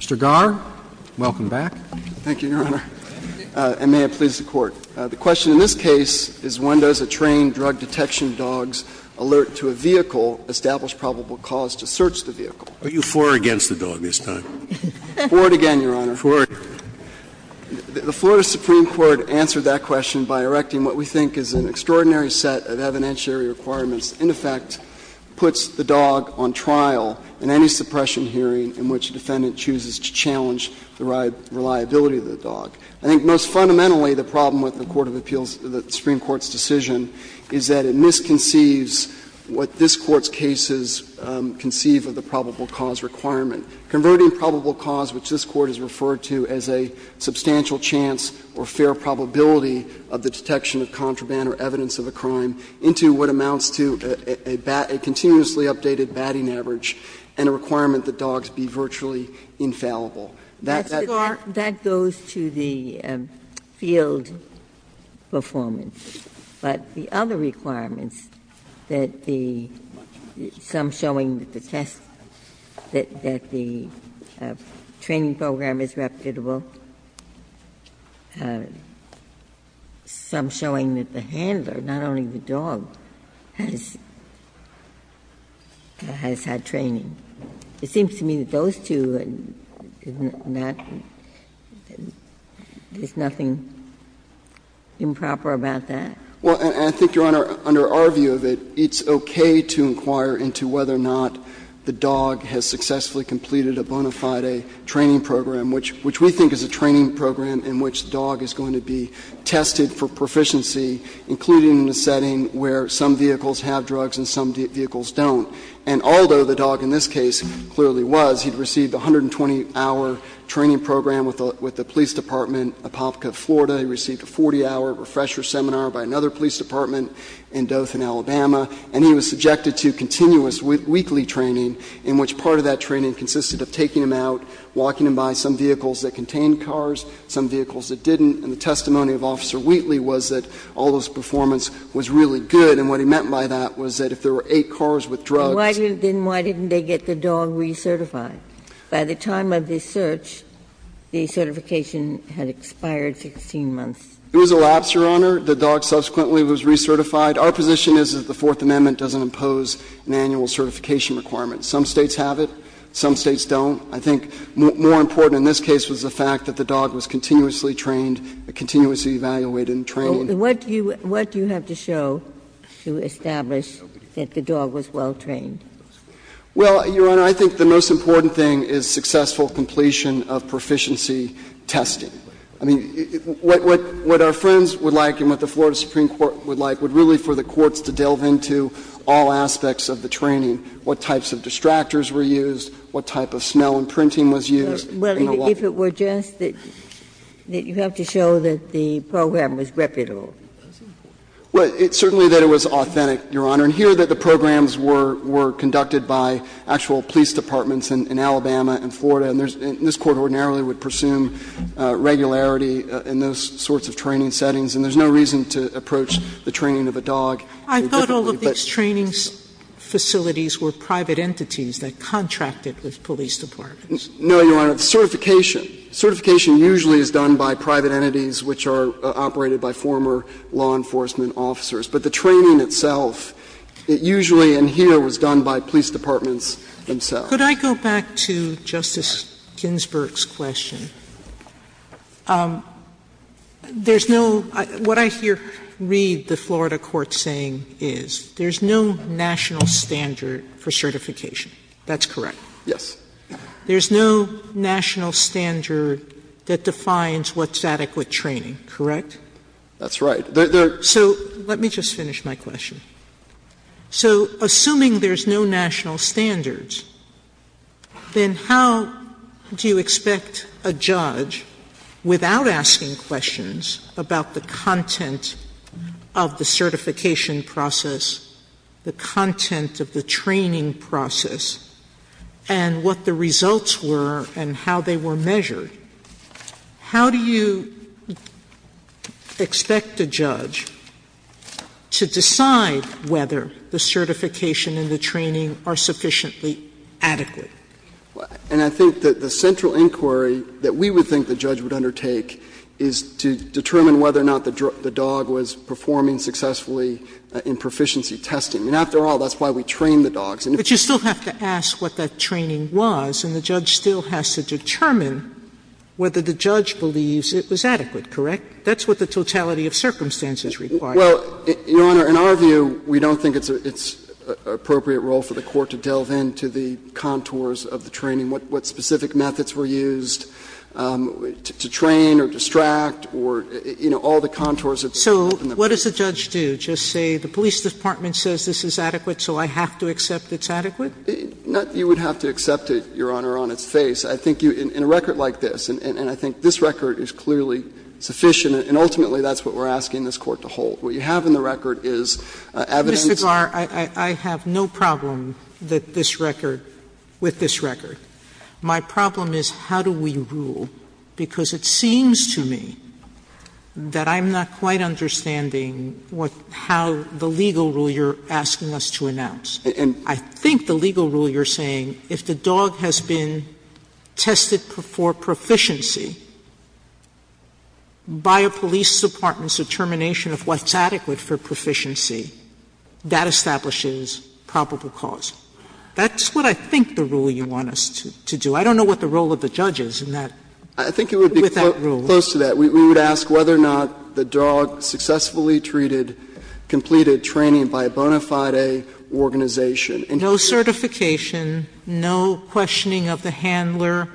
Mr. Garre, welcome back. Thank you, Your Honor, and may it please the Court. The question in this case is when does a trained drug detection dog's alert to a vehicle establish probable cause to search the vehicle? Are you for or against the dog this time? For it again, Your Honor. For it. The Florida Supreme Court answered that question by erecting what we think is an extraordinary set of evidentiary requirements that, in effect, puts the dog on trial in any suppression hearing in which a defendant chooses to challenge the reliability of the dog. I think most fundamentally the problem with the Court of Appeals, the Supreme Court's decision, is that it misconceives what this Court's cases conceive of the probable cause requirement. Converting probable cause, which this Court has referred to as a substantial chance or fair probability of the detection of contraband or evidence of a contraband crime, into what amounts to a continuously updated batting average and a requirement that dogs be virtually infallible. That's the part that goes to the field performance, but the other requirements that the some showing that the test, that the training program is reputable, some showing that the handler, not only the dog, has had training. It seems to me that those two are not – there's nothing improper about that. Well, I think, Your Honor, under our view of it, it's okay to inquire into whether or not the dog has successfully completed a bona fide training program, which we think is a training program in which the dog is going to be tested for proficiency, including in a setting where some vehicles have drugs and some vehicles don't. And although the dog in this case clearly was, he'd received a 120-hour training program with the police department of Hopka, Florida. He received a 40-hour refresher seminar by another police department in Dothan, Alabama. And he was subjected to continuous weekly training in which part of that training consisted of taking him out, walking him by some vehicles that contained cars, some vehicles that didn't. And the testimony of Officer Wheatley was that all of his performance was really good. And what he meant by that was that if there were eight cars with drugs… Then why didn't they get the dog recertified? By the time of this search, the certification had expired 16 months. It was a lapse, Your Honor. The dog subsequently was recertified. Our position is that the Fourth Amendment doesn't impose an annual certification requirement. Some States have it, some States don't. I think more important in this case was the fact that the dog was continuously trained, continuously evaluated and trained. And what do you have to show to establish that the dog was well-trained? Well, Your Honor, I think the most important thing is successful completion of proficiency testing. I mean, what our friends would like and what the Florida Supreme Court would like would really for the courts to delve into all aspects of the training, what types of distractors were used, what type of smell and printing was used. Well, if it were just that you have to show that the program was reputable. Well, it's certainly that it was authentic, Your Honor. And here that the programs were conducted by actual police departments in Alabama and Florida, and this Court ordinarily would pursue regularity in those sorts of training settings, and there's no reason to approach the training of a dog. Sotomayor, I thought all of these training facilities were private entities that contracted with police departments. No, Your Honor. Certification. Certification usually is done by private entities which are operated by former law enforcement officers. But the training itself, it usually in here was done by police departments themselves. Could I go back to Justice Ginsburg's question? There's no ‑‑ what I read the Florida court saying is there's no national standard for certification. That's correct? Yes. There's no national standard that defines what's adequate training, correct? That's right. There are ‑‑ So let me just finish my question. How do you expect a judge, without asking questions about the content of the certification process, the content of the training process, and what the results were and how they were measured, how do you expect a judge to decide whether the certification and the training are sufficiently adequate? And I think that the central inquiry that we would think the judge would undertake is to determine whether or not the dog was performing successfully in proficiency testing. And after all, that's why we train the dogs. But you still have to ask what that training was, and the judge still has to determine whether the judge believes it was adequate, correct? That's what the totality of circumstances requires. Well, Your Honor, in our view, we don't think it's an appropriate role for the court to delve into the contours of the training, what specific methods were used to train or distract or, you know, all the contours of the training. So what does the judge do? Just say the police department says this is adequate, so I have to accept it's adequate? Not that you would have to accept it, Your Honor, on its face. I think you ‑‑ in a record like this, and I think this record is clearly sufficient, and ultimately that's what we're asking this Court to hold. What you have in the record is evidence ‑‑ Sotomayor, I have no problem that this record ‑‑ with this record. My problem is how do we rule, because it seems to me that I'm not quite understanding what ‑‑ how the legal rule you're asking us to announce. I think the legal rule you're saying, if the dog has been tested for proficiency by a police department's determination of what's adequate for proficiency, that establishes probable cause. That's what I think the rule you want us to do. I don't know what the role of the judge is in that ‑‑ I think it would be close to that. We would ask whether or not the dog successfully treated, completed training by a bona fide organization. No certification, no questioning of the handler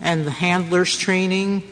and the handler's training?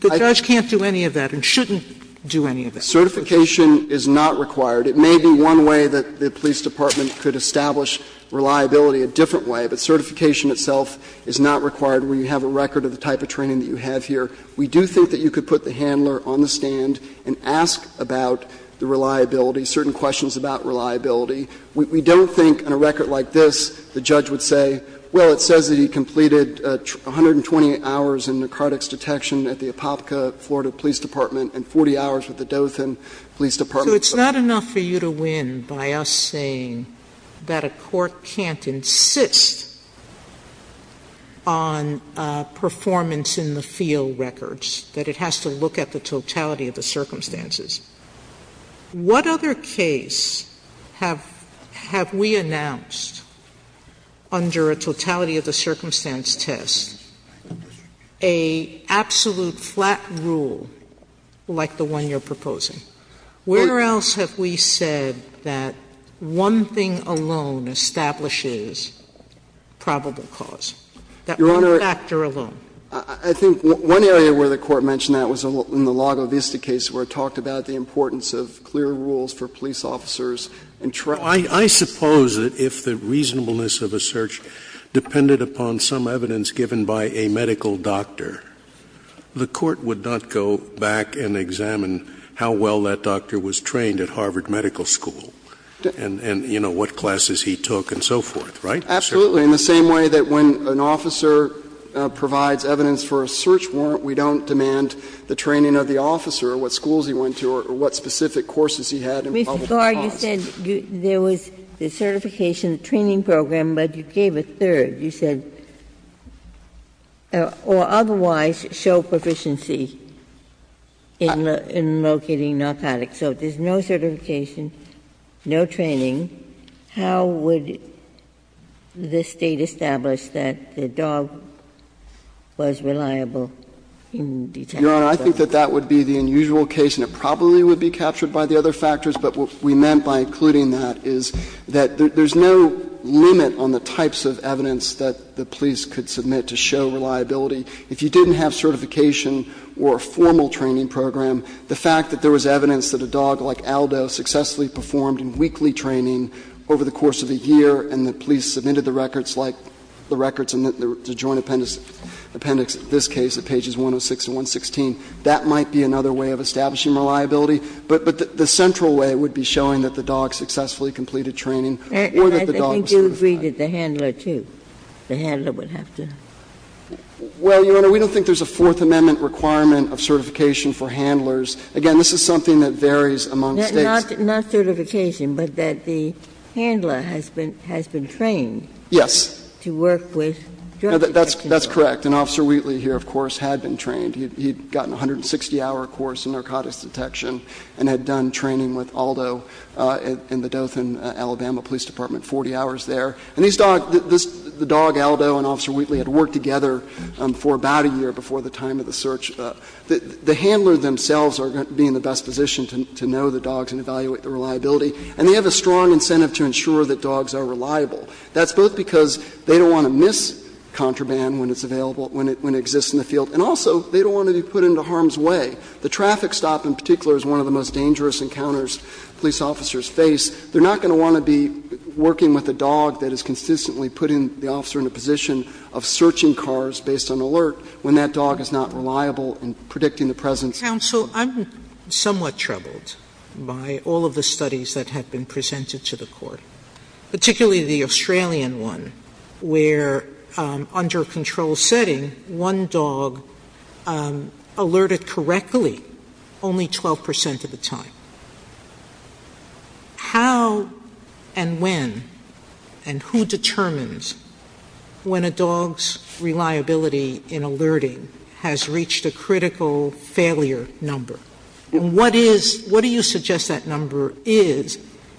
The judge can't do any of that and shouldn't do any of that. Certification is not required. It may be one way that the police department could establish reliability, a different way, but certification itself is not required when you have a record of the type of training that you have here. We do think that you could put the handler on the stand and ask about the reliability, certain questions about reliability. We don't think on a record like this the judge would say, well, it says that he completed 128 hours in narcotics detection at the Apopka, Florida, police department and 40 hours with the Dothan police department. So it's not enough for you to win by us saying that a court can't insist on performance in the field records, that it has to look at the totality of the circumstances. What other case have we announced under a totality of the circumstance test, a absolute flat rule like the one you're proposing? Where else have we said that one thing alone establishes probable cause? That one factor alone? Your Honor, I think one area where the Court mentioned that was in the Lago Vista case where it talked about the importance of clear rules for police officers and trust. I suppose that if the reasonableness of a search depended upon some evidence given by a medical doctor, the Court would not go back and examine how well that doctor was trained at Harvard Medical School and what classes he took and so forth, right? Absolutely. In the same way that when an officer provides evidence for a search warrant, we don't demand the training of the officer or what schools he went to or what specific courses he had in probable cause. But, Mr. Garre, you said there was the certification training program, but you gave a third, you said, or otherwise show proficiency in locating narcotics. So if there's no certification, no training, how would the State establish that the dog was reliable in detecting drugs? Your Honor, I think that that would be the unusual case, and it probably would be captured by the other factors. But what we meant by including that is that there's no limit on the types of evidence that the police could submit to show reliability. If you didn't have certification or a formal training program, the fact that there was evidence that a dog like Aldo successfully performed weekly training over the course of a year and the police submitted the records like the records in the joint appendix in this case at pages 106 and 116, that might be another way of establishing reliability. But the central way would be showing that the dog successfully completed training or that the dog was certified. Ginsburg. And I think you agree that the handler, too, the handler would have to. Well, Your Honor, we don't think there's a Fourth Amendment requirement of certification for handlers. Again, this is something that varies among States. Not certification, but that the handler has been trained to work with drug detection. Yes. That's correct. And Officer Wheatley here, of course, had been trained. He had gotten a 160-hour course in narcotics detection. And had done training with Aldo in the Dothan, Alabama, Police Department, 40 hours there. And these dogs, the dog Aldo and Officer Wheatley had worked together for about a year before the time of the search. The handler themselves are going to be in the best position to know the dogs and evaluate the reliability. And they have a strong incentive to ensure that dogs are reliable. That's both because they don't want to miss contraband when it's available, when it exists in the field. And also, they don't want to be put into harm's way. The traffic stop, in particular, is one of the most dangerous encounters police officers face. They're not going to want to be working with a dog that is consistently putting the officer in a position of searching cars based on alert when that dog is not reliable in predicting the presence. Sotomayor, I'm somewhat troubled by all of the studies that have been presented to the Court, particularly the Australian one, where under a controlled setting, one dog alerted correctly only 12 percent of the time. How and when and who determines when a dog's reliability in alerting has reached a critical failure number, and what is — what do you suggest that number is,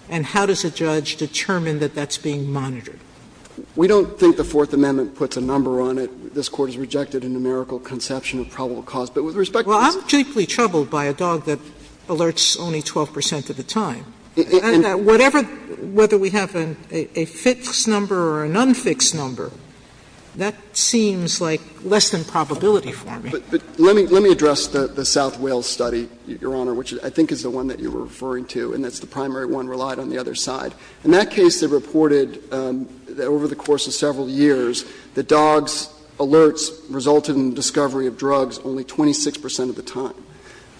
and how does a judge determine that that's being monitored? We don't think the Fourth Amendment puts a number on it. This Court has rejected a numerical conception of probable cause. But with respect to this case of the South Wales study, which I think is the one that you were referring to, and that's the primary one relied on the other side, in that case, they reported that over the course of several years, the dogs that were alerted the dogs that were not alerted in the South Wales study, the dogs that were not alerted in the South Wales study, the dogs that were alerted in the South Wales study, in the South Wales study resulted in discovery of drugs only 26 percent of the time.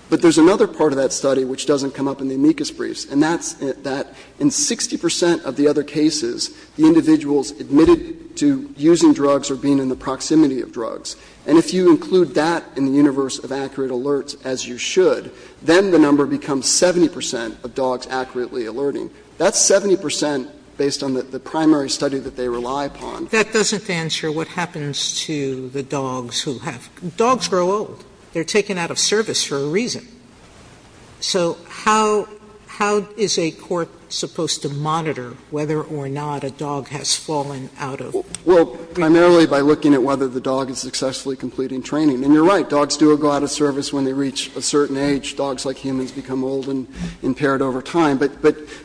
But there's another part of that study which doesn't come up in the amicus briefs, and that's that in 60 percent of the other cases, the individuals admitted to using drugs or being in the proximity of drugs. And if you include that in the universe of accurate alerts, as you should, then the number becomes 70 percent of dogs accurately alerting. That's 70 percent based on the primary study that they rely upon. Sotomayor, that doesn't answer what happens to the dogs who have – dogs grow old. They're taken out of service for a reason. So how – how is a court supposed to monitor whether or not a dog has fallen out of? Well, primarily by looking at whether the dog is successfully completing training. And you're right, dogs do go out of service when they reach a certain age. Dogs like humans become old and impaired over time. But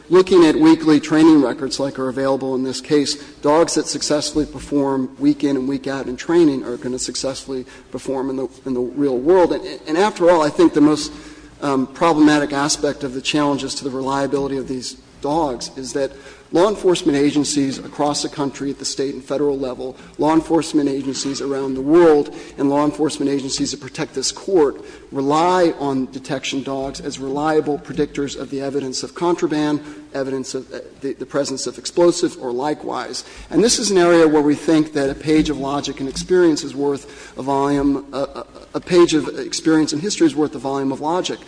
looking at weekly training records like are available in this case, dogs that successfully perform week-in and week-out in training are going to successfully perform in the real world. And after all, I think the most problematic aspect of the challenges to the reliability of these dogs is that law enforcement agencies across the country at the State and Federal level, law enforcement agencies around the world, and law enforcement agencies that protect this Court rely on detection dogs as reliable predictors of the evidence of contraband, evidence of the presence of explosives, or likewise. And this is an area where we think that a page of logic and experience is worth a volume – a page of experience and history is worth a volume of logic.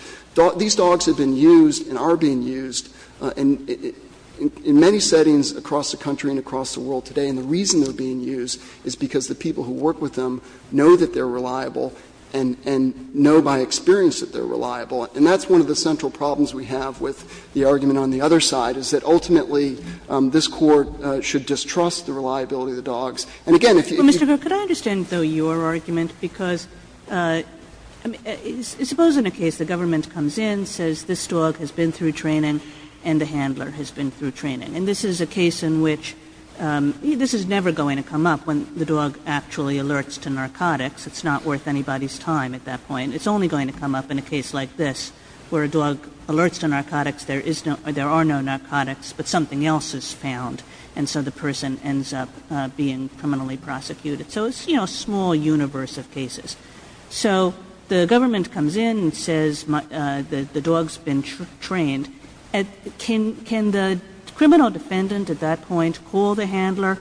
These dogs have been used and are being used in many settings across the country and across the world today, and the reason they're being used is because the people who work with them know that they're reliable and know by experience that they're reliable. And that's one of the central problems we have with the argument on the other side, is that ultimately this Court should distrust the reliability of the dogs. And again, if you could go back to the other side of the argument, I think it's a good example of a case where the government comes in, says this dog has been through training and the handler has been through training, and this is a case in which – this is never going to come up when the dog actually alerts to narcotics. It's not worth anybody's time at that point. It's only going to come up in a case like this, where a dog alerts to narcotics, there is no – there are no narcotics, but something else is found, and so the person ends up being criminally prosecuted. So it's, you know, a small universe of cases. So the government comes in and says the dog's been trained. Can the criminal defendant at that point call the handler,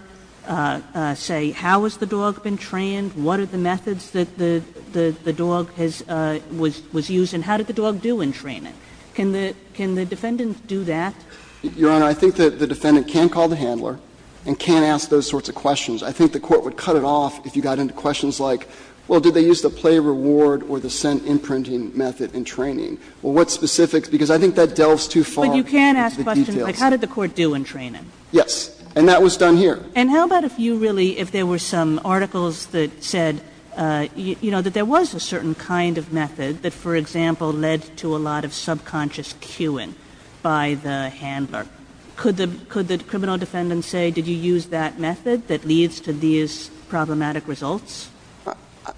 say how has the dog been trained, what are the methods that the dog has – was used, and how did the dog do in training? Can the defendant do that? Your Honor, I think that the defendant can call the handler and can ask those sorts of questions. I think the Court would cut it off if you got into questions like, well, did they use the play reward or the scent imprinting method in training? Well, what specifics? Because I think that delves too far into the details. Kagan. But you can ask questions like how did the Court do in training? Yes. And that was done here. And how about if you really – if there were some articles that said, you know, that there was a certain kind of method that, for example, led to a lot of subconscious cueing by the handler. Could the criminal defendant say, did you use that method that leads to these problematic results?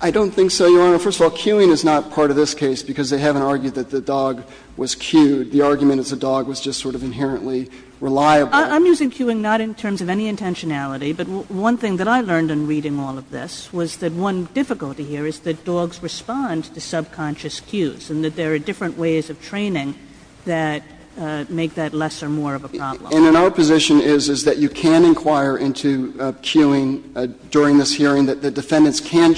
I don't think so, Your Honor. First of all, cueing is not part of this case because they haven't argued that the dog was cued. The argument is the dog was just sort of inherently reliable. I'm using cueing not in terms of any intentionality, but one thing that I learned in reading all of this was that one difficulty here is that dogs respond to subconscious cues. And in our position is, is that you can inquire into cueing during this hearing, that the defendants can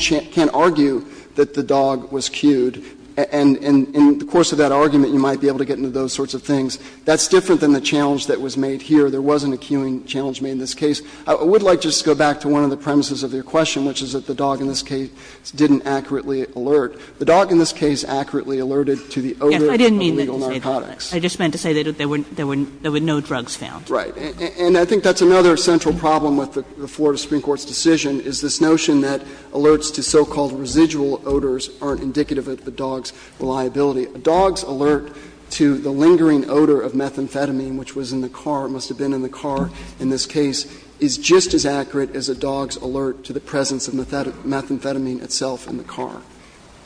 argue that the dog was cued. And in the course of that argument, you might be able to get into those sorts of things. That's different than the challenge that was made here. There wasn't a cueing challenge made in this case. I would like just to go back to one of the premises of your question, which is that the dog in this case didn't accurately alert. The dog in this case accurately alerted to the odor of illegal narcotics. Kagan. I just meant to say that there were no drugs found. Right. And I think that's another central problem with the Florida Supreme Court's decision is this notion that alerts to so-called residual odors aren't indicative of the dog's reliability. A dog's alert to the lingering odor of methamphetamine, which was in the car, it must have been in the car in this case, is just as accurate as a dog's alert to the presence of methamphetamine itself in the car.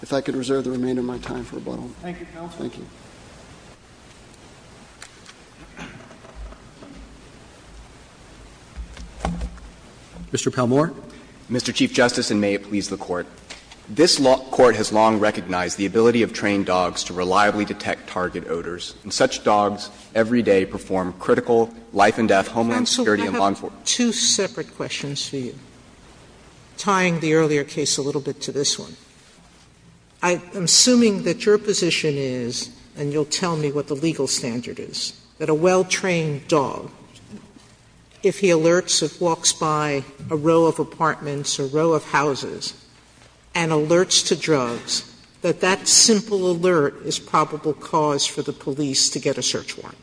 If I could reserve the remainder of my time for rebuttal. Thank you, counsel. Thank you. Mr. Palmore. Mr. Chief Justice, and may it please the Court. This Court has long recognized the ability of trained dogs to reliably detect target odors, and such dogs every day perform critical life-and-death homeland security and long-term safety. Counsel, I have two separate questions for you, tying the earlier case a little bit to this one. I'm assuming that your position is, and you'll tell me what the legal standard is, that a well-trained dog, if he alerts or walks by a row of apartments or a row of houses and alerts to drugs, that that simple alert is probable cause for the police to get a search warrant.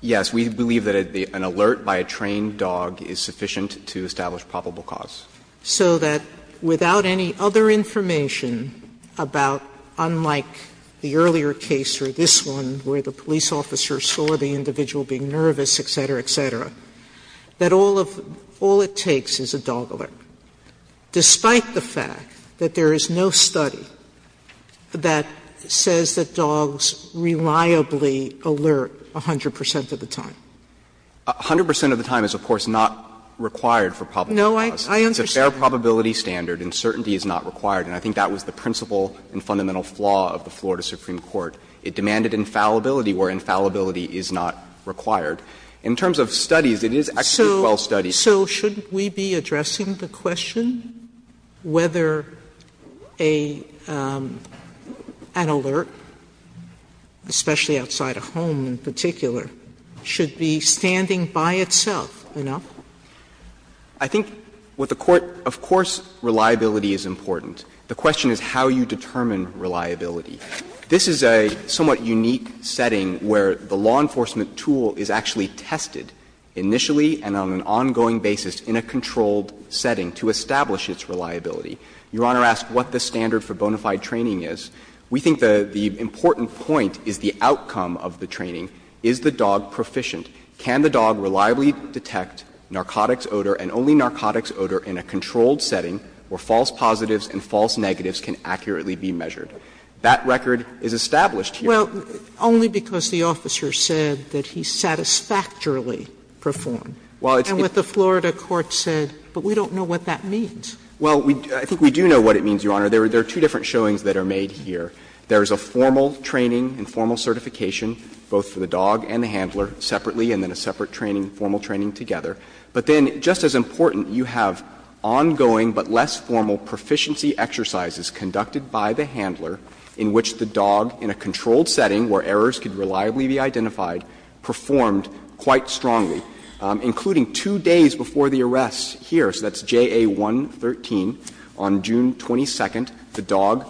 Yes. We believe that an alert by a trained dog is sufficient to establish probable cause. So that without any other information about, unlike the earlier case or this one where the police officer saw the individual being nervous, et cetera, et cetera, that all of the – all it takes is a dog alert, despite the fact that there is no study that says that dogs reliably alert 100 percent of the time. 100 percent of the time is, of course, not required for probable cause. No, I understand. It's a fair probability standard. Uncertainty is not required. And I think that was the principal and fundamental flaw of the Florida Supreme Court. It demanded infallibility where infallibility is not required. In terms of studies, it is actually well studied. So shouldn't we be addressing the question whether an alert, especially outside a home in particular, should be standing by itself enough? I think what the Court – of course, reliability is important. The question is how you determine reliability. This is a somewhat unique setting where the law enforcement tool is actually tested initially and on an ongoing basis in a controlled setting to establish its reliability. Your Honor asked what the standard for bona fide training is. We think the important point is the outcome of the training. Is the dog proficient? Can the dog reliably detect narcotics odor and only narcotics odor in a controlled setting where false positives and false negatives can accurately be measured? That record is established here. Well, only because the officer said that he satisfactorily performed. And what the Florida court said, but we don't know what that means. Well, I think we do know what it means, Your Honor. There are two different showings that are made here. There is a formal training and formal certification, both for the dog and the handler, separately, and then a separate training, formal training together. But then, just as important, you have ongoing but less formal proficiency exercises conducted by the handler in which the dog, in a controlled setting where errors could reliably be identified, performed quite strongly, including two days before the arrest here. So that's JA113. On June 22nd, the dog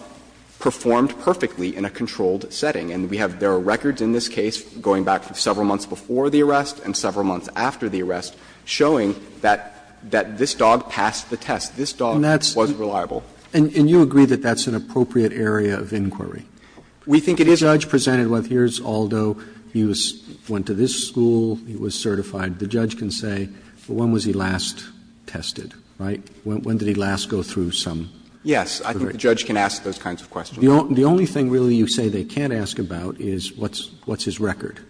performed perfectly in a controlled setting. And we have their records in this case going back several months before the arrest and several months after the arrest showing that this dog passed the test, this dog was reliable. And you agree that that's an appropriate area of inquiry? We think it is. The judge presented, well, here's Aldo, he went to this school, he was certified. The judge can say, well, when was he last tested, right? When did he last go through some? Yes, I think the judge can ask those kinds of questions. The only thing, really, you say they can't ask about is what's his record?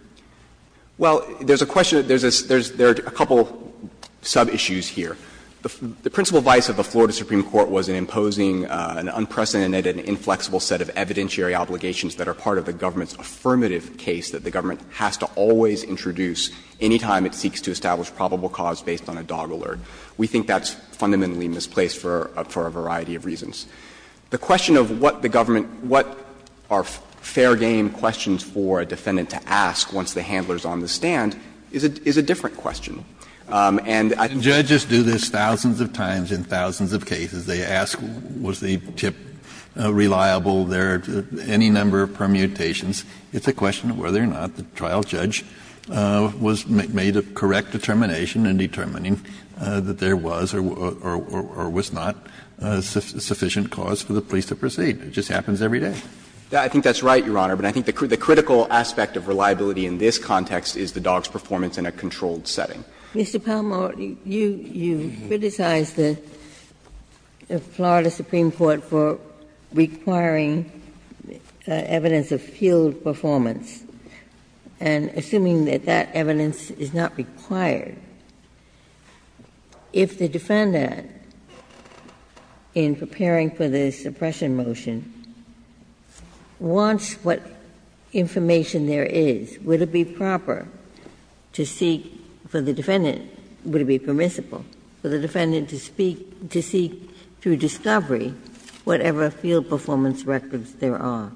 Well, there's a question that there's a couple of sub-issues here. The principal vice of the Florida Supreme Court was in imposing an unprecedented and inflexible set of evidentiary obligations that are part of the government's affirmative case that the government has to always introduce any time it seeks to establish probable cause based on a dog alert. The question of what the government, what are fair game questions for a defendant to ask once the handler is on the stand is a different question. And I think that's what the judge has to ask. Kennedy, in his case, was asked, was the tip reliable, there are any number of permutations. It's a question of whether or not the trial judge was made of correct determination and determining that there was or was not a sufficient cause for the police to proceed. It just happens every day. I think that's right, Your Honor, but I think the critical aspect of reliability in this context is the dog's performance in a controlled setting. Mr. Palmore, you criticize the Florida Supreme Court for requiring evidence of field performance, and assuming that that evidence is not required, if the defendant in preparing for the suppression motion wants what information there is, would it be proper to seek for the defendant, would it be permissible for the defendant to speak to seek through discovery whatever field performance records there are?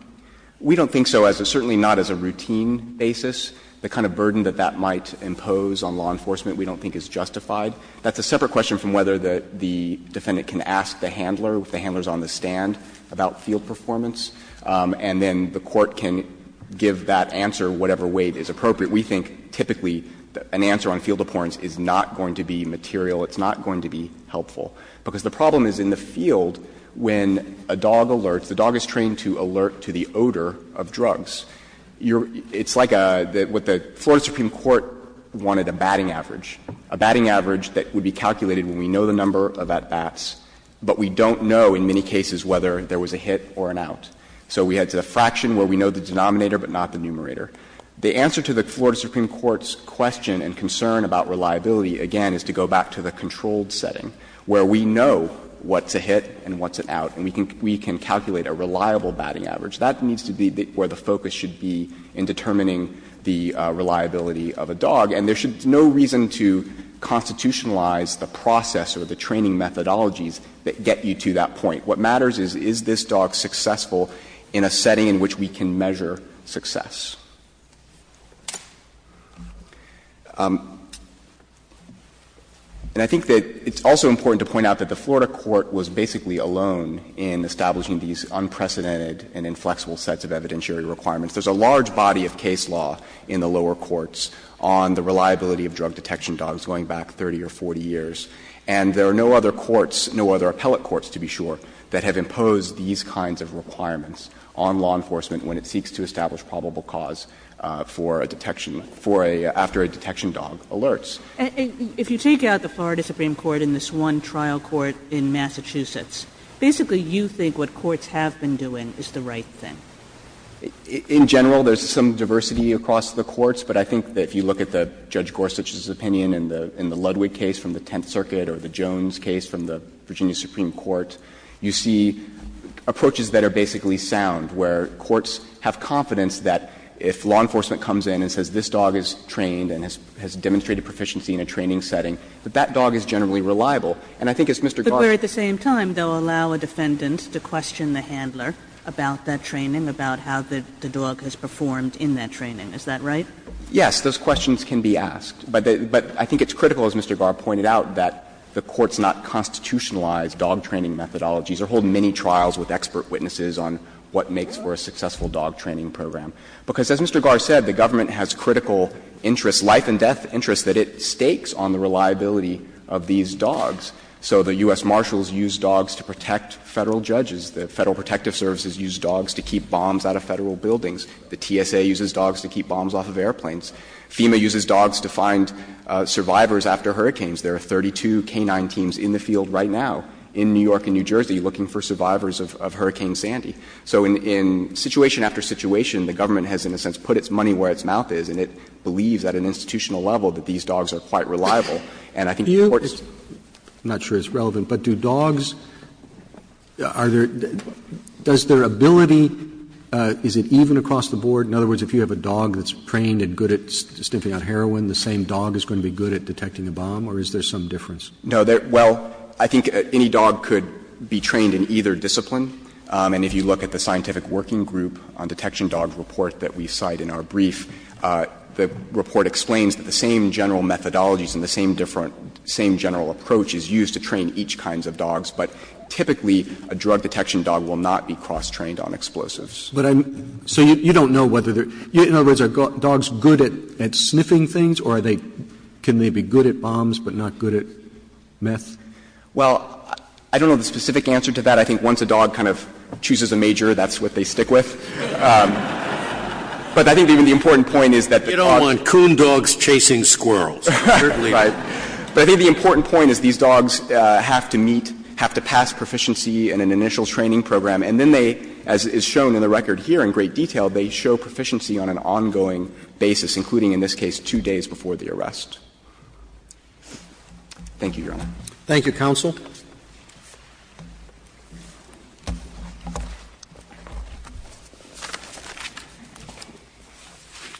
We don't think so, certainly not as a routine basis. The kind of burden that that might impose on law enforcement we don't think is justified. That's a separate question from whether the defendant can ask the handler, if the handler is on the stand, about field performance, and then the court can give that answer whatever way it is appropriate. We think typically an answer on field abhorrence is not going to be material, it's not going to be helpful. Because the problem is in the field, when a dog alerts, the dog is trained to alert to the odor of drugs. It's like what the Florida Supreme Court wanted, a batting average. A batting average that would be calculated when we know the number of at-bats, but we don't know in many cases whether there was a hit or an out. So we had a fraction where we know the denominator but not the numerator. The answer to the Florida Supreme Court's question and concern about reliability, again, is to go back to the controlled setting, where we know what's a hit and what's a batting average. That needs to be where the focus should be in determining the reliability of a dog. And there should be no reason to constitutionalize the process or the training methodologies that get you to that point. What matters is, is this dog successful in a setting in which we can measure success? And I think that it's also important to point out that the Florida court was basically alone in establishing these unprecedented and inflexible sets of evidentiary requirements. There's a large body of case law in the lower courts on the reliability of drug-detection dogs going back 30 or 40 years. And there are no other courts, no other appellate courts, to be sure, that have imposed these kinds of requirements on law enforcement when it seeks to establish probable cause for a detection for a — after a detection dog alerts. Kagan. And if you take out the Florida Supreme Court in this one trial court in Massachusetts, basically you think what courts have been doing is the right thing? In general, there's some diversity across the courts, but I think that if you look at the — Judge Gorsuch's opinion in the Ludwig case from the Tenth Circuit or the Jones case from the Virginia Supreme Court, you see approaches that are basically sound, where courts have confidence that if law enforcement comes in and says, this dog is trained and has demonstrated proficiency in a training setting, that that dog is generally reliable. And I think as Mr. Garre— But where at the same time they'll allow a defendant to question the handler about that training, about how the dog has performed in that training. Is that right? Yes. Those questions can be asked. But I think it's critical, as Mr. Garre pointed out, that the courts not constitutionalize dog training methodologies or hold mini-trials with expert witnesses on what makes for a successful dog training program. Because as Mr. Garre said, the government has critical interests, life and death interests that it stakes on the reliability of these dogs. So the U.S. Marshals use dogs to protect Federal judges. The Federal Protective Services use dogs to keep bombs out of Federal buildings. The TSA uses dogs to keep bombs off of airplanes. FEMA uses dogs to find survivors after hurricanes. There are 32 canine teams in the field right now in New York and New Jersey looking for survivors of Hurricane Sandy. So in situation after situation, the government has in a sense put its money where its mouth is, and it believes at an institutional level that these dogs are quite reliable. And I think the courts need to understand that. I'm not sure it's relevant, but do dogs, are there, does their ability, is it even across the board? In other words, if you have a dog that's trained and good at stimping out heroin, the same dog is going to be good at detecting a bomb, or is there some difference? No. Well, I think any dog could be trained in either discipline. And if you look at the Scientific Working Group on Detection Dogs report that we cite in our brief, the report explains that the same general methodologies and the same different, same general approach is used to train each kinds of dogs, but typically a drug detection dog will not be cross-trained on explosives. But I'm, so you don't know whether they're, in other words, are dogs good at sniffing things, or are they, can they be good at bombs but not good at meth? Well, I don't know the specific answer to that. But I think once a dog kind of chooses a major, that's what they stick with. But I think the important point is that the dog. You don't want coon dogs chasing squirrels. Right. But I think the important point is these dogs have to meet, have to pass proficiency in an initial training program, and then they, as is shown in the record here in great detail, they show proficiency on an ongoing basis, including, in this case, two days before the arrest. Thank you, Your Honor. Thank you, counsel.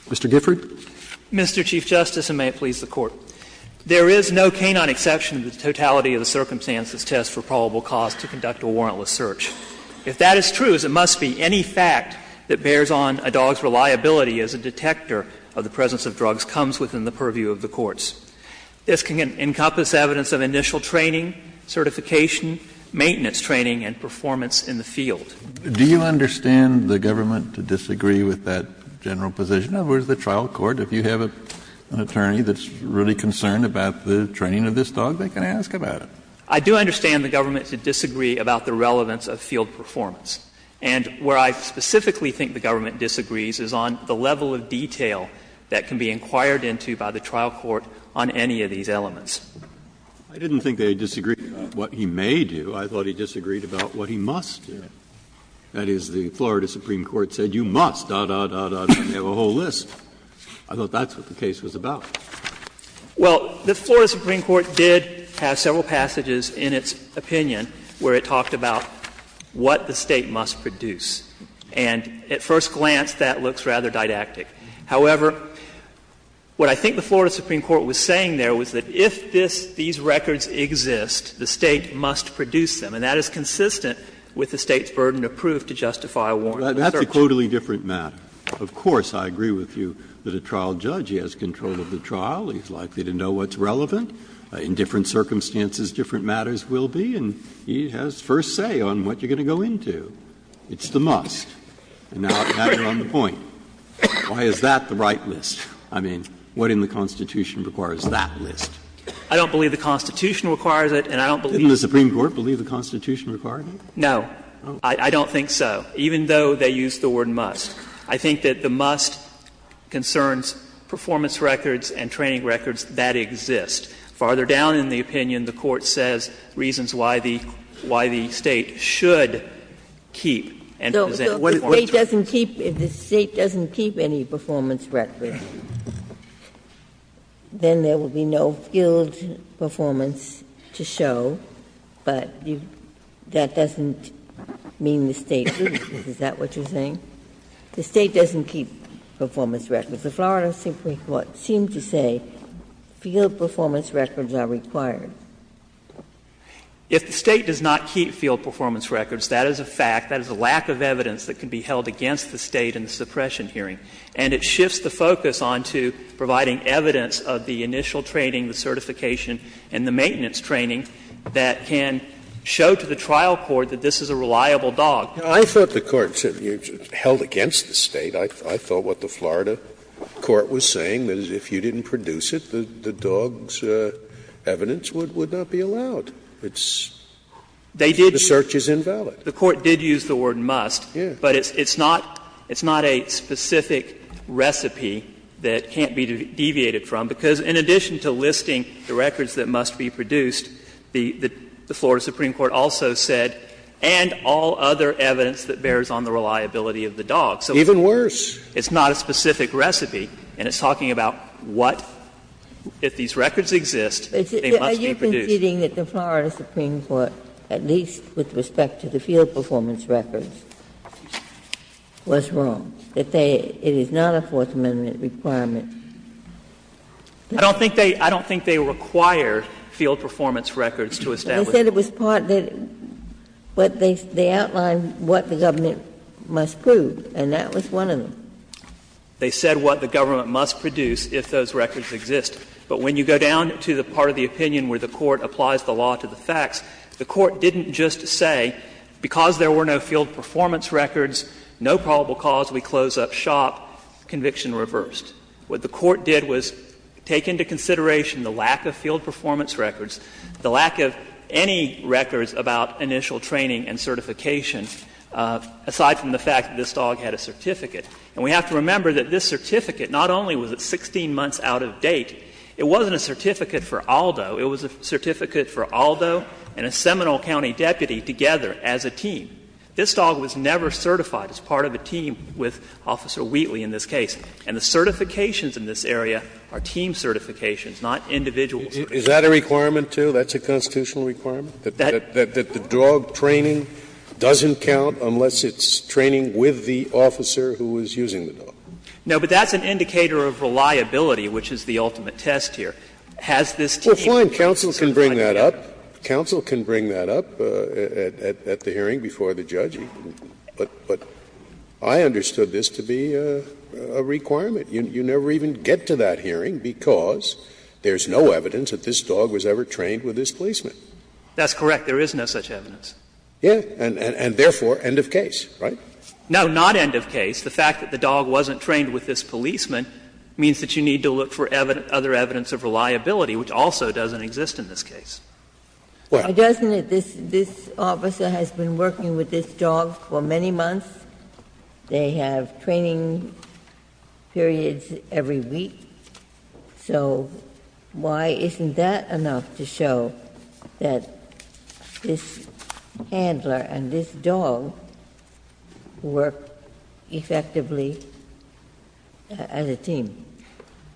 Mr. Gifford. Mr. Chief Justice, and may it please the Court. There is no canine exception to the totality of the circumstances test for probable cause to conduct a warrantless search. If that is true, as it must be, any fact that bears on a dog's reliability as a detector of the presence of drugs comes within the purview of the courts. This can encompass evidence of initial training, certification, maintenance training, and performance in the field. Do you understand the government to disagree with that general position? In other words, the trial court, if you have an attorney that's really concerned about the training of this dog, they can ask about it. I do understand the government to disagree about the relevance of field performance. And where I specifically think the government disagrees is on the level of detail that can be inquired into by the trial court on any of these elements. I didn't think they disagreed about what he may do. I thought he disagreed about what he must do. That is, the Florida Supreme Court said you must, da, da, da, da. They have a whole list. I thought that's what the case was about. Well, the Florida Supreme Court did have several passages in its opinion where it talked about what the State must produce. And at first glance that looks rather didactic. However, what I think the Florida Supreme Court was saying there was that if this these records exist, the State must produce them. And that is consistent with the State's burden of proof to justify a warrant of search. Breyer. That's a totally different matter. Of course, I agree with you that a trial judge, he has control of the trial, he's likely to know what's relevant. In different circumstances, different matters will be, and he has first say on what you're going to go into. It's the must. And now you're on the point. Why is that the right list? I mean, what in the Constitution requires that list? I don't believe the Constitution requires it, and I don't believe it. Didn't the Supreme Court believe the Constitution required it? No. I don't think so, even though they used the word must. I think that the must concerns performance records and training records that exist. Farther down in the opinion, the Court says reasons why the State should keep and present performance records. If the State doesn't keep any performance records, then there will be no field performance to show, but that doesn't mean the State loses. Is that what you're saying? The State doesn't keep performance records. The Florida Supreme Court seemed to say field performance records are required. If the State does not keep field performance records, that is a fact, that is a lack of evidence that can be held against the State in the suppression hearing. And it shifts the focus on to providing evidence of the initial training, the certification, and the maintenance training that can show to the trial court that this is a reliable dog. Scalia I thought the Court said held against the State. I thought what the Florida court was saying is if you didn't produce it, the dog's evidence would not be allowed. It's the search is invalid. The Court did use the word must, but it's not a specific recipe that can't be deviated from, because in addition to listing the records that must be produced, the Florida Supreme Court also said, and all other evidence that bears on the reliability of the dog. So it's not a specific recipe, and it's talking about what, if these records exist, they must be produced. Ginsburg But you're saying that the Florida Supreme Court, at least with respect to the field performance records, was wrong, that they — it is not a Fourth Amendment requirement. I don't think they — I don't think they require field performance records to establish them. Ginsburg They said it was part — they outlined what the government must prove, and that was one of them. They said what the government must produce if those records exist. But when you go down to the part of the opinion where the Court applies the law to the facts, the Court didn't just say, because there were no field performance records, no probable cause, we close up shop, conviction reversed. What the Court did was take into consideration the lack of field performance records, the lack of any records about initial training and certification, aside from the fact that this dog had a certificate. And we have to remember that this certificate not only was at 16 months out of date, it wasn't a certificate for Aldo. It was a certificate for Aldo and a Seminole County deputy together as a team. This dog was never certified as part of a team with Officer Wheatley in this case. And the certifications in this area are team certifications, not individual certificates. Scalia Is that a requirement, too, that's a constitutional requirement, that the dog training doesn't count unless it's training with the officer who was using the dog? Now, but that's an indicator of reliability, which is the ultimate test here. Has this team certified as a team? Scalia Well, fine, counsel can bring that up. Counsel can bring that up at the hearing before the judge. But I understood this to be a requirement. You never even get to that hearing because there's no evidence that this dog was ever trained with this placement. That's correct. There is no such evidence. Scalia Yes, and therefore, end of case, right? Now, not end of case. The fact that the dog wasn't trained with this policeman means that you need to look for other evidence of reliability, which also doesn't exist in this case. Ginsburg Well, doesn't this officer has been working with this dog for many months? They have training periods every week. So why isn't that enough to show that this handler and this dog work effectively as a team?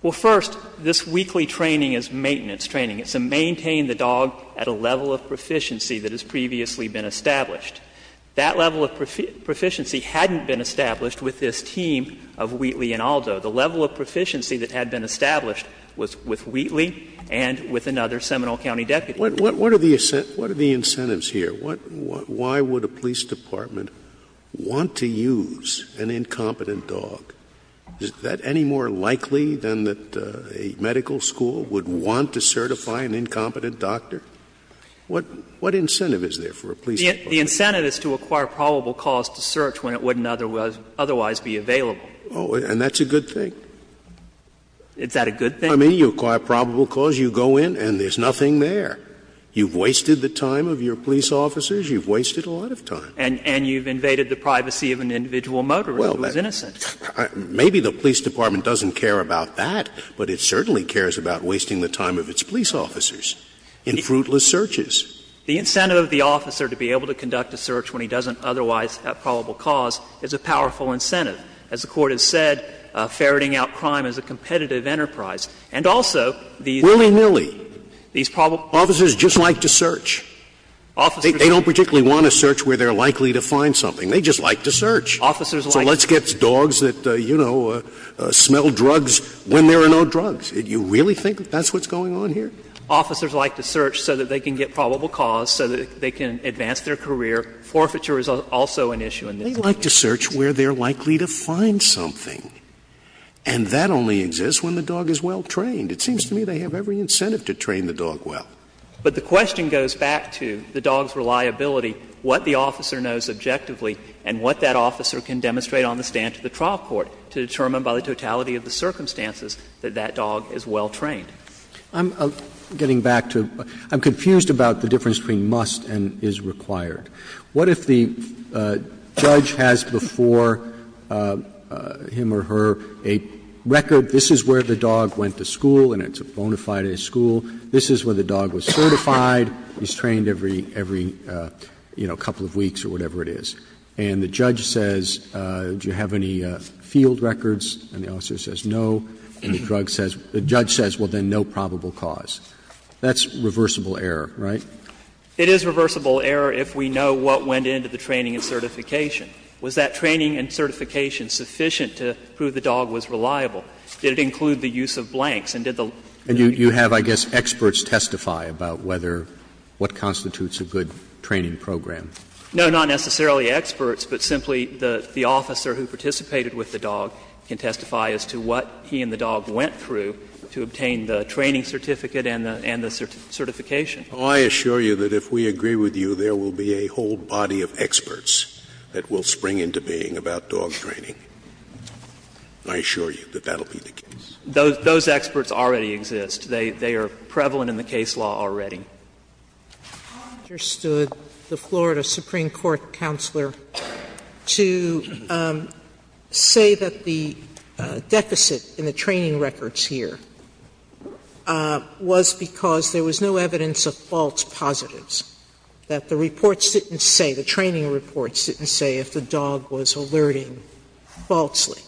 Well, first, this weekly training is maintenance training. It's to maintain the dog at a level of proficiency that has previously been established. That level of proficiency hadn't been established with this team of Wheatley and Aldo. The level of proficiency that had been established was with Wheatley and with another Seminole County deputy. Scalia What are the incentives here? Why would a police department want to use an incompetent dog? Is that any more likely than that a medical school would want to certify an incompetent doctor? What incentive is there for a police department? The incentive is to acquire probable cause to search when it wouldn't otherwise be available. Scalia Oh, and that's a good thing. I mean, you acquire probable cause, you go in, and there's nothing there. You've wasted the time of your police officers. You've wasted a lot of time. And you've invaded the privacy of an individual motorist who is innocent. Maybe the police department doesn't care about that, but it certainly cares about wasting the time of its police officers in fruitless searches. The incentive of the officer to be able to conduct a search when he doesn't otherwise have probable cause is a powerful incentive. As the Court has said, ferreting out crime is a competitive enterprise. And also, these Scalia Willy-nilly. Officers just like to search. They don't particularly want to search where they're likely to find something. They just like to search. So let's get dogs that, you know, smell drugs when there are no drugs. You really think that's what's going on here? Officers like to search so that they can get probable cause, so that they can advance their career. Forfeiture is also an issue in this case. Scalia They like to search where they're likely to find something. And that only exists when the dog is well trained. It seems to me they have every incentive to train the dog well. But the question goes back to the dog's reliability, what the officer knows objectively, and what that officer can demonstrate on the stand to the trial court to determine by the totality of the circumstances that that dog is well trained. Roberts I'm confused about the difference between must and is required. What if the judge has before him or her a record, this is where the dog went to school and it's bona fide at school, this is where the dog was certified, he's trained every, you know, couple of weeks or whatever it is, and the judge says, do you have any field records, and the officer says no, and the judge says, well, then no probable cause. That's reversible error, right? Forfeiture It is reversible error if we know what went into the training and certification. Was that training and certification sufficient to prove the dog was reliable? Did it include the use of blanks? And did the lawyer Roberts And you have, I guess, experts testify about whether what constitutes a good training program. Forfeiture No, not necessarily experts, but simply the officer who participated with the dog can testify as to what he and the dog went through to obtain the training certificate and the certification. Scalia I assure you that if we agree with you, there will be a whole body of experts that will spring into being about dog training. I assure you that that will be the case. Forfeiture Those experts already exist. They are prevalent in the case law already. Sotomayor Sotomayor I understood the Florida Supreme Court counselor to say that the deficit in the training records here was because there was no evidence of false positives, that the reports didn't say, the training reports didn't say if the dog was alerting falsely.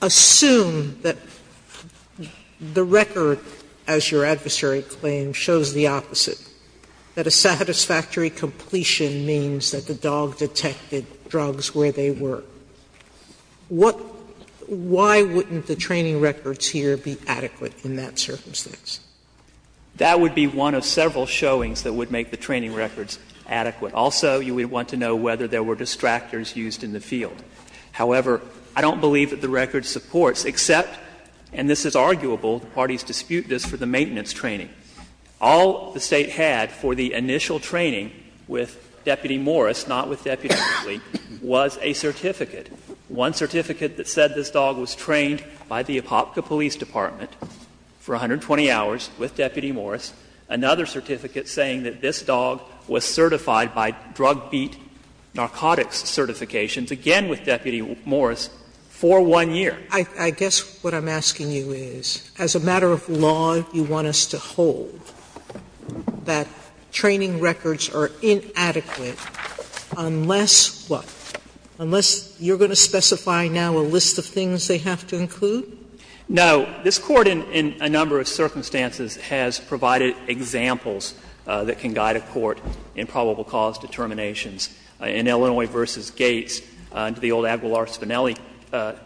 Assume that the record, as your adversary claims, shows the opposite, that a satisfactory completion means that the dog detected drugs where they were. What — why wouldn't the training records here be adequate in that circumstance? That would be one of several showings that would make the training records adequate. Also, you would want to know whether there were distractors used in the field. However, I don't believe that the record supports, except, and this is arguable, the parties dispute this for the maintenance training. All the State had for the initial training with Deputy Morris, not with Deputy Ridley, was a certificate. One certificate that said this dog was trained by the Apopka Police Department for 120 hours with Deputy Morris. Another certificate saying that this dog was certified by drug beat narcotics certifications, again with Deputy Morris, for one year. Sotomayor, I guess what I'm asking you is, as a matter of law, you want us to hold that training records are inadequate unless what? Unless you're going to specify now a list of things they have to include? Now, this Court in a number of circumstances has provided examples that can guide a court in probable cause determinations. In Illinois v. Gates, under the old Aguilar-Spinelli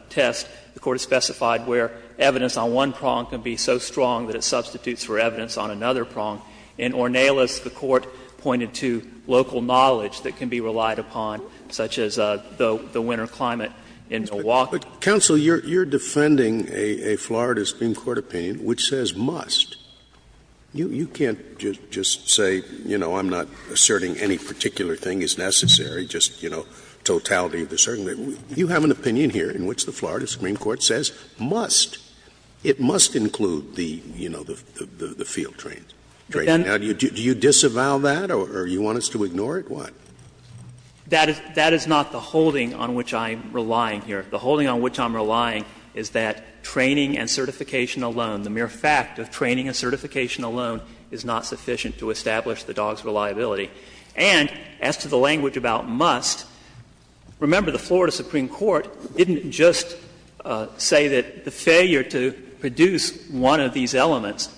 test, the Court has specified where evidence on one prong can be so strong that it substitutes for evidence on another prong. In Ornelas, the Court pointed to local knowledge that can be relied upon, such as the winter climate in Milwaukee. Scalia. But, counsel, you're defending a Florida Supreme Court opinion which says must. You can't just say, you know, I'm not asserting any particular thing is necessary, just, you know, totality of the certain. You have an opinion here in which the Florida Supreme Court says must. It must include the, you know, the field training. Now, do you disavow that or do you want us to ignore it? What? That is not the holding on which I'm relying here. The holding on which I'm relying is that training and certification alone, the mere fact of training and certification alone is not sufficient to establish the dog's reliability. And as to the language about must, remember, the Florida Supreme Court didn't just say that the failure to produce one of these elements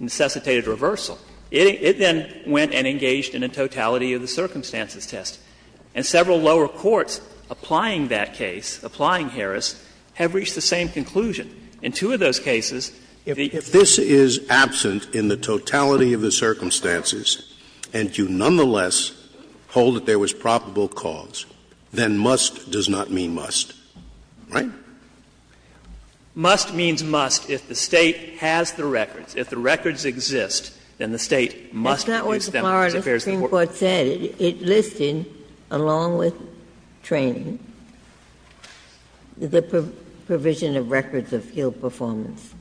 necessitated reversal. It then went and engaged in a totality of the circumstances test. And several lower courts applying that case, applying Harris, have reached the same conclusion. In two of those cases, if the case is absent in the totality of the circumstances and you nonetheless hold that there was probable cause, then must does not mean must. Right? Must means must if the State has the records. If the records exist, then the State must establish. Ginsburg, the Florida Supreme Court said it listed, along with training, the provision of records of field performance.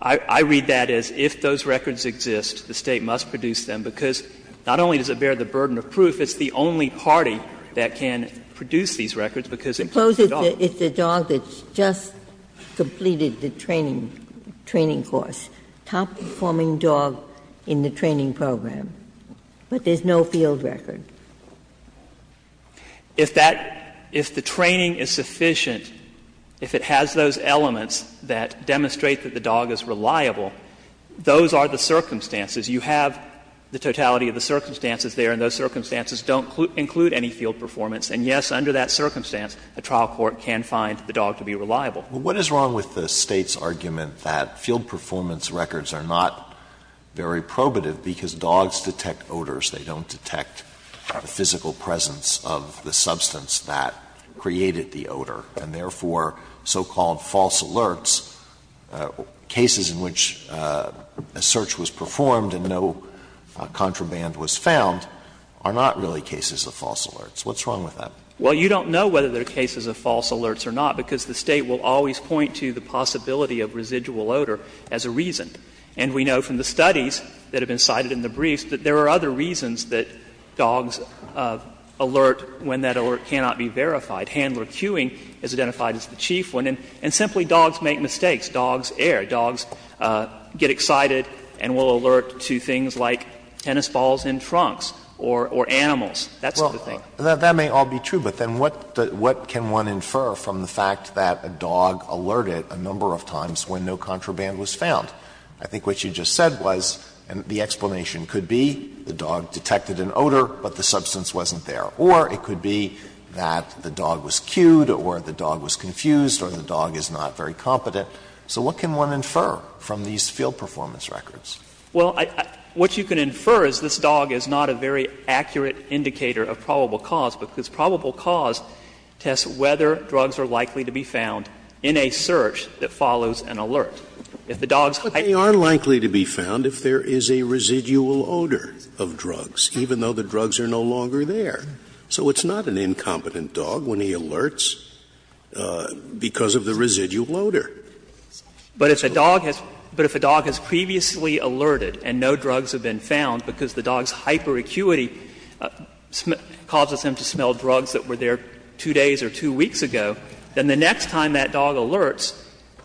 I read that as if those records exist, the State must produce them, because not only does it bear the burden of proof, it's the only party that can produce these records, because it includes the dog. Suppose it's a dog that's just completed the training course, top-performing dog in the training program, but there's no field record. If that – if the training is sufficient, if it has those elements that demonstrate that the dog is reliable, those are the circumstances. You have the totality of the circumstances there, and those circumstances don't include any field performance. And, yes, under that circumstance, a trial court can find the dog to be reliable. Alito, what is wrong with the State's argument that field performance records are not very probative because dogs detect odors, they don't detect the physical presence of the substance that created the odor, and therefore so-called false alerts, cases in which a search was performed and no contraband was found, are not really cases of false alerts. What's wrong with that? Well, you don't know whether they're cases of false alerts or not, because the State will always point to the possibility of residual odor as a reason. And we know from the studies that have been cited in the briefs that there are other reasons that dogs alert when that alert cannot be verified. Handler cueing is identified as the chief one. And simply, dogs make mistakes. Dogs err. Dogs get excited and will alert to things like tennis balls in trunks or animals. That's the thing. Alito, that may all be true, but then what can one infer from the fact that a dog alerted a number of times when no contraband was found? I think what you just said was the explanation could be the dog detected an odor, but the substance wasn't there. Or it could be that the dog was cued or the dog was confused or the dog is not very competent. So what can one infer from these field performance records? Well, what you can infer is this dog is not a very accurate indicator of probable cause, because probable cause tests whether drugs are likely to be found in a search that follows an alert. If the dog's high But they are likely to be found if there is a residual odor of drugs, even though the drugs are no longer there. So it's not an incompetent dog when he alerts because of the residual odor. But if a dog has previously alerted and no drugs have been found because the dog's hyperacuity causes him to smell drugs that were there 2 days or 2 weeks ago, then the next time that dog alerts,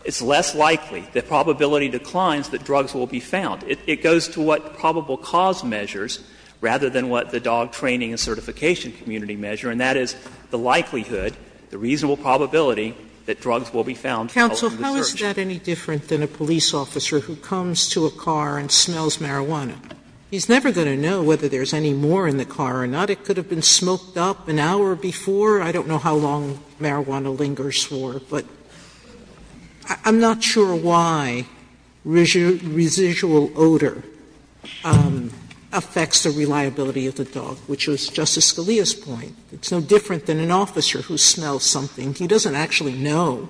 it's less likely, the probability declines, that drugs will be found. It goes to what probable cause measures rather than what the dog training and certification community measure, and that is the likelihood, the reasonable probability, that drugs will be found following the search. Sotomayor, how is that any different than a police officer who comes to a car and smells marijuana? He's never going to know whether there's any more in the car or not. It could have been smoked up an hour before. I don't know how long marijuana lingers for, but I'm not sure why residual odor affects the reliability of the dog, which was Justice Scalia's point. It's no different than an officer who smells something. He doesn't actually know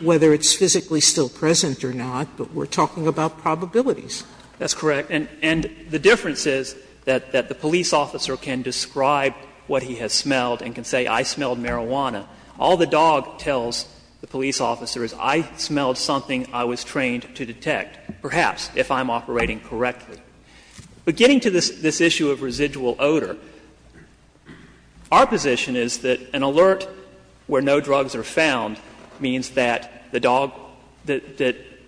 whether it's physically still present or not, but we're talking about probabilities. That's correct. And the difference is that the police officer can describe what he has smelled and can say, I smelled marijuana. All the dog tells the police officer is, I smelled something I was trained to detect, perhaps, if I'm operating correctly. But getting to this issue of residual odor, our position is that an alert where no drugs are found means that the dog, that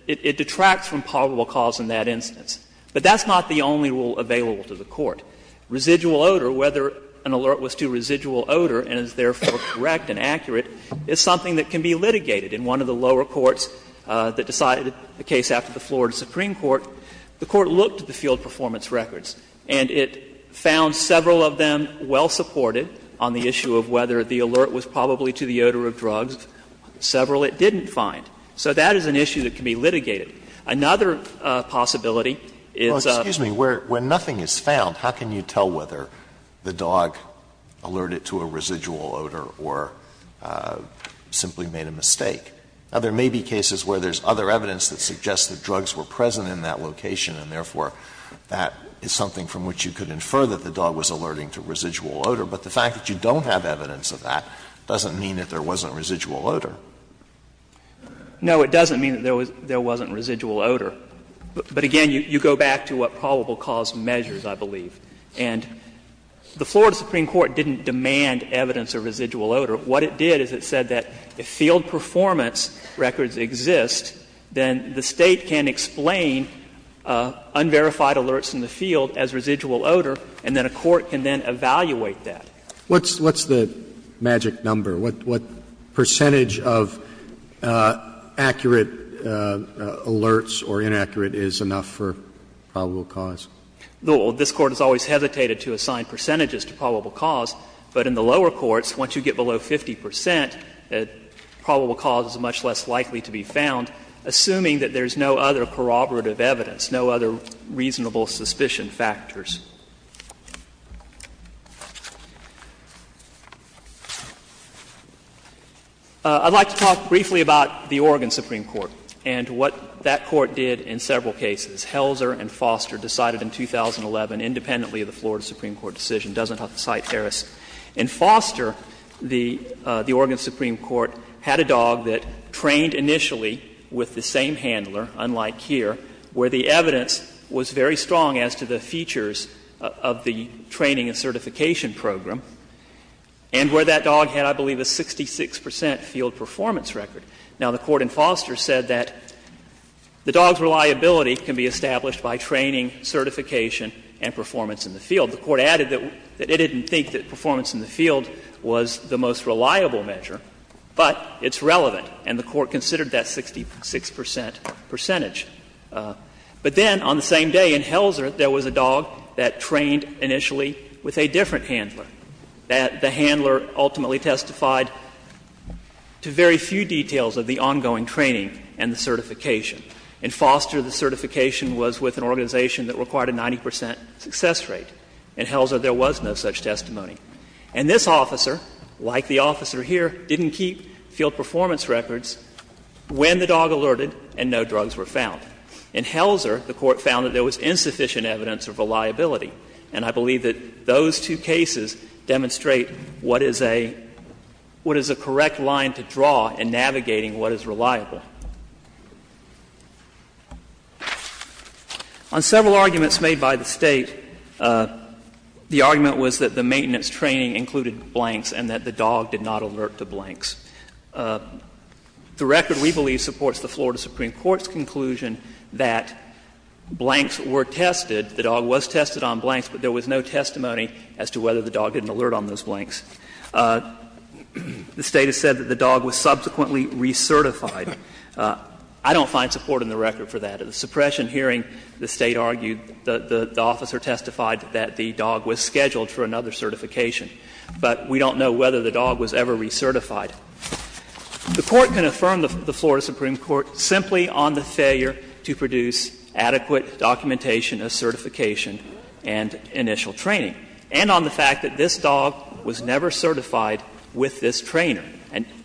it detracts from probable cause in that instance. But that's not the only rule available to the Court. Residual odor, whether an alert was to residual odor and is therefore correct and accurate, is something that can be litigated. In one of the lower courts that decided the case after the Florida Supreme Court, the Court looked at the field performance records, and it found several of them well-supported on the issue of whether the alert was probably to the odor of drugs, several it didn't find. So that is an issue that can be litigated. Another possibility is a ---- Alitos, when nothing is found, how can you tell whether the dog alerted to a residual odor or simply made a mistake? Now, there may be cases where there's other evidence that suggests that drugs were present in that location, and therefore, that is something from which you could infer that the dog was alerting to residual odor. But the fact that you don't have evidence of that doesn't mean that there wasn't residual odor. No, it doesn't mean that there wasn't residual odor. But again, you go back to what probable cause measures, I believe. And the Florida Supreme Court didn't demand evidence of residual odor. What it did is it said that if field performance records exist, then the State can explain unverified alerts in the field as residual odor, and then a court can then evaluate that. What's the magic number? What percentage of accurate alerts or inaccurate is enough for probable cause? This Court has always hesitated to assign percentages to probable cause, but in the case of 50 percent, probable cause is much less likely to be found, assuming that there's no other corroborative evidence, no other reasonable suspicion factors. I'd like to talk briefly about the Oregon Supreme Court and what that Court did in several cases. Helzer and Foster decided in 2011, independently of the Florida Supreme Court decision, doesn't have to cite Harris. In Foster, the Oregon Supreme Court had a dog that trained initially with the same handler, unlike here, where the evidence was very strong as to the features of the training and certification program, and where that dog had, I believe, a 66 percent field performance record. Now, the Court in Foster said that the dog's reliability can be established by training, certification, and performance in the field. The Court added that it didn't think that performance in the field was the most reliable measure, but it's relevant, and the Court considered that 66 percent percentage. But then, on the same day in Helzer, there was a dog that trained initially with a different handler, that the handler ultimately testified to very few details of the ongoing training and the certification. In Foster, the certification was with an organization that required a 90 percent success rate. In Helzer, there was no such testimony. And this officer, like the officer here, didn't keep field performance records when the dog alerted and no drugs were found. In Helzer, the Court found that there was insufficient evidence of reliability, and I believe that those two cases demonstrate what is a — what is a correct line to draw in navigating what is reliable. On several arguments made by the State, the argument was that the maintenance training included blanks and that the dog did not alert to blanks. The record, we believe, supports the Florida Supreme Court's conclusion that blanks were tested, the dog was tested on blanks, but there was no testimony as to whether the dog didn't alert on those blanks. The State has said that the dog was subsequently recertified. I don't find support in the record for that. At the suppression hearing, the State argued that the officer testified that the dog was scheduled for another certification, but we don't know whether the dog was ever recertified. The Court can affirm the Florida Supreme Court simply on the failure to produce adequate documentation of certification and initial training, and on the fact that this dog was never certified with this trainer,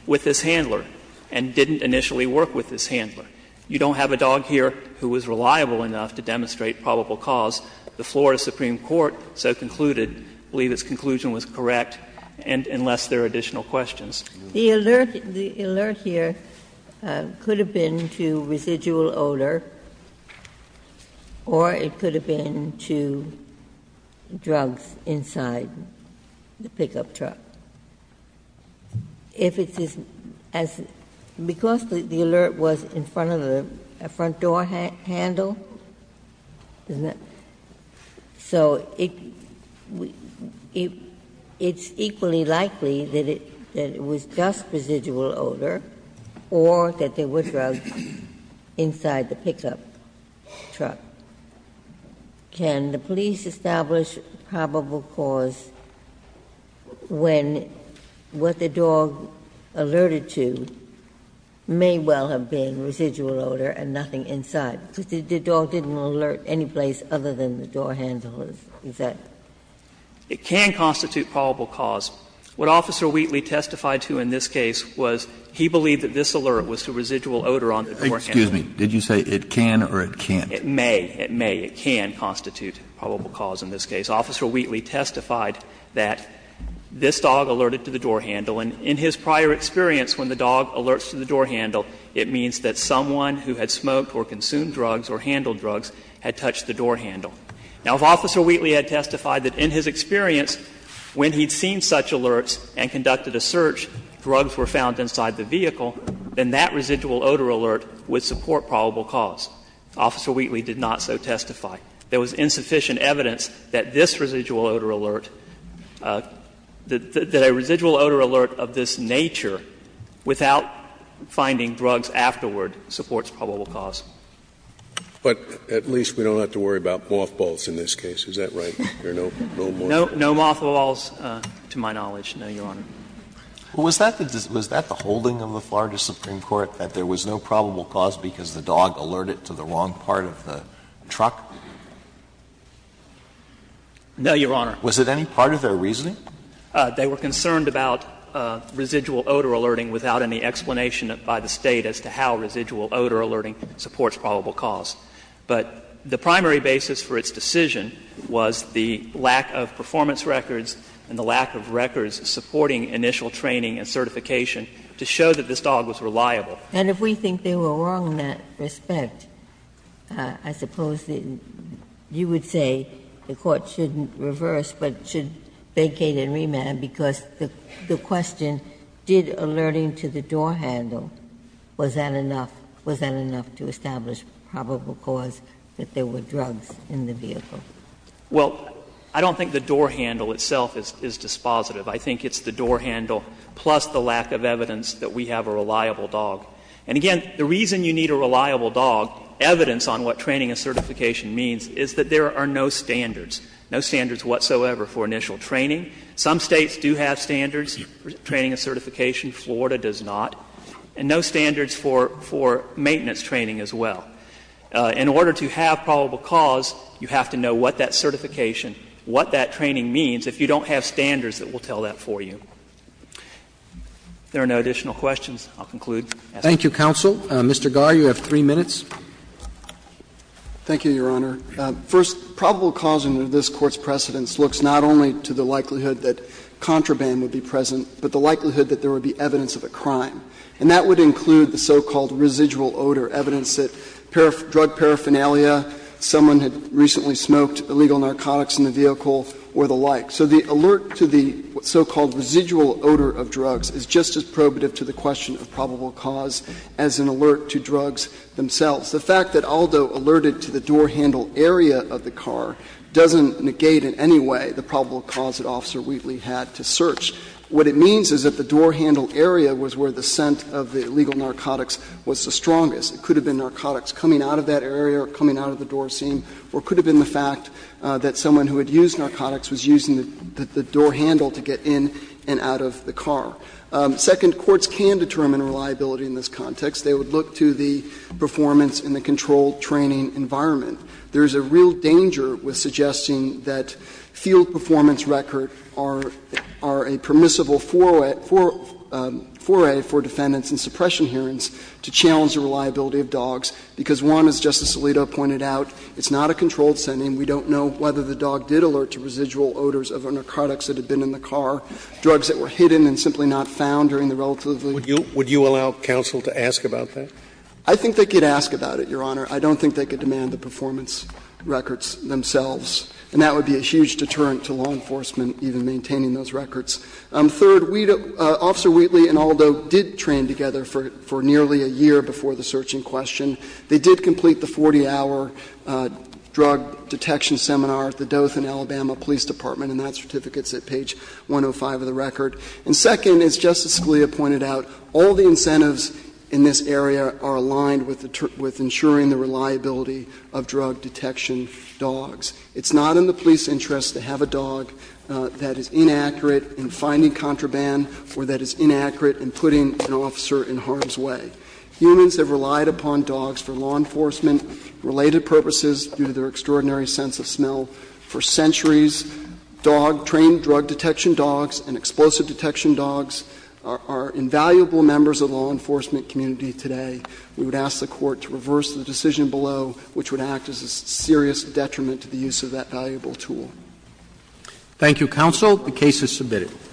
with this handler, and didn't initially work with this handler. You don't have a dog here who was reliable enough to demonstrate probable cause. The Florida Supreme Court so concluded, I believe its conclusion was correct, and unless there are additional questions. Ginsburg. The alert here could have been to residual odor, or it could have been to drugs inside the pickup truck. If it's as the alert was in front of the front door handle, so it's equally likely that it was just residual odor, or that there were drugs inside the pickup truck. Can the police establish probable cause when what the dog alerted to may well have been residual odor and nothing inside? Because the dog didn't alert any place other than the door handle, is that? It can constitute probable cause. What Officer Wheatley testified to in this case was he believed that this alert was to residual odor on the door handle. Excuse me. Did you say it can or it can't? It may. It may. It can constitute probable cause in this case. Officer Wheatley testified that this dog alerted to the door handle. And in his prior experience, when the dog alerts to the door handle, it means that someone who had smoked or consumed drugs or handled drugs had touched the door handle. Now, if Officer Wheatley had testified that in his experience, when he'd seen such alerts and conducted a search, drugs were found inside the vehicle, then that residual odor alert would support probable cause. Officer Wheatley did not so testify. There was insufficient evidence that this residual odor alert, that a residual odor alert of this nature without finding drugs afterward supports probable cause. But at least we don't have to worry about mothballs in this case. Is that right? There are no mothballs. No mothballs to my knowledge, no, Your Honor. Sotomayor, did you say that this dog alerted to the wrong part of the truck? No, Your Honor. Was it any part of their reasoning? They were concerned about residual odor alerting without any explanation by the State as to how residual odor alerting supports probable cause. But the primary basis for its decision was the lack of performance records and the lack of records supporting initial training and certification to show that this dog was reliable. And if we think they were wrong in that respect, I suppose you would say the Court shouldn't reverse but should vacate and remand, because the question, did alerting to the door handle, was that enough, was that enough to establish probable cause that there were drugs in the vehicle? Well, I don't think the door handle itself is dispositive. I think it's the door handle plus the lack of evidence that we have a reliable dog. And again, the reason you need a reliable dog, evidence on what training and certification means, is that there are no standards, no standards whatsoever for initial training. Some States do have standards for training and certification. Florida does not. And no standards for maintenance training as well. In order to have probable cause, you have to know what that certification, what that training means, if you don't have standards that will tell that for you. If there are no additional questions, I'll conclude. Roberts. Thank you, counsel. Mr. Garre, you have three minutes. Thank you, Your Honor. First, probable cause under this Court's precedence looks not only to the likelihood that contraband would be present, but the likelihood that there would be evidence of a crime. And that would include the so-called residual odor, evidence that drug paraphernalia, someone had recently smoked illegal narcotics in the vehicle, or the like. So the alert to the so-called residual odor of drugs is just as probative to the question of probable cause as an alert to drugs themselves. The fact that Aldo alerted to the door handle area of the car doesn't negate in any way the probable cause that Officer Wheatley had to search. What it means is that the door handle area was where the scent of the illegal narcotics was the strongest. It could have been narcotics coming out of that area or coming out of the door seam, or it could have been the fact that someone who had used narcotics was using the door handle to get in and out of the car. Second, courts can determine reliability in this context. They would look to the performance in the controlled training environment. There is a real danger with suggesting that field performance records are a permissible because, one, as Justice Alito pointed out, it's not a controlled scenting. We don't know whether the dog did alert to residual odors of narcotics that had been in the car, drugs that were hidden and simply not found during the relatively ---- Scalia. Would you allow counsel to ask about that? I think they could ask about it, Your Honor. I don't think they could demand the performance records themselves. And that would be a huge deterrent to law enforcement even maintaining those records. Third, Officer Wheatley and Aldo did train together for nearly a year before the search in question. They did complete the 40-hour drug detection seminar at the Dothan, Alabama Police Department, and that certificate's at page 105 of the record. And second, as Justice Scalia pointed out, all the incentives in this area are aligned with ensuring the reliability of drug detection dogs. It's not in the police interest to have a dog that is inaccurate in finding contraband or that is inaccurate in putting an officer in harm's way. Humans have relied upon dogs for law enforcement-related purposes due to their extraordinary sense of smell. For centuries, dog-trained drug detection dogs and explosive detection dogs are invaluable members of the law enforcement community today. We would ask the Court to reverse the decision below, which would act as a serious detriment to the use of that valuable tool. Thank you, counsel. The case is submitted.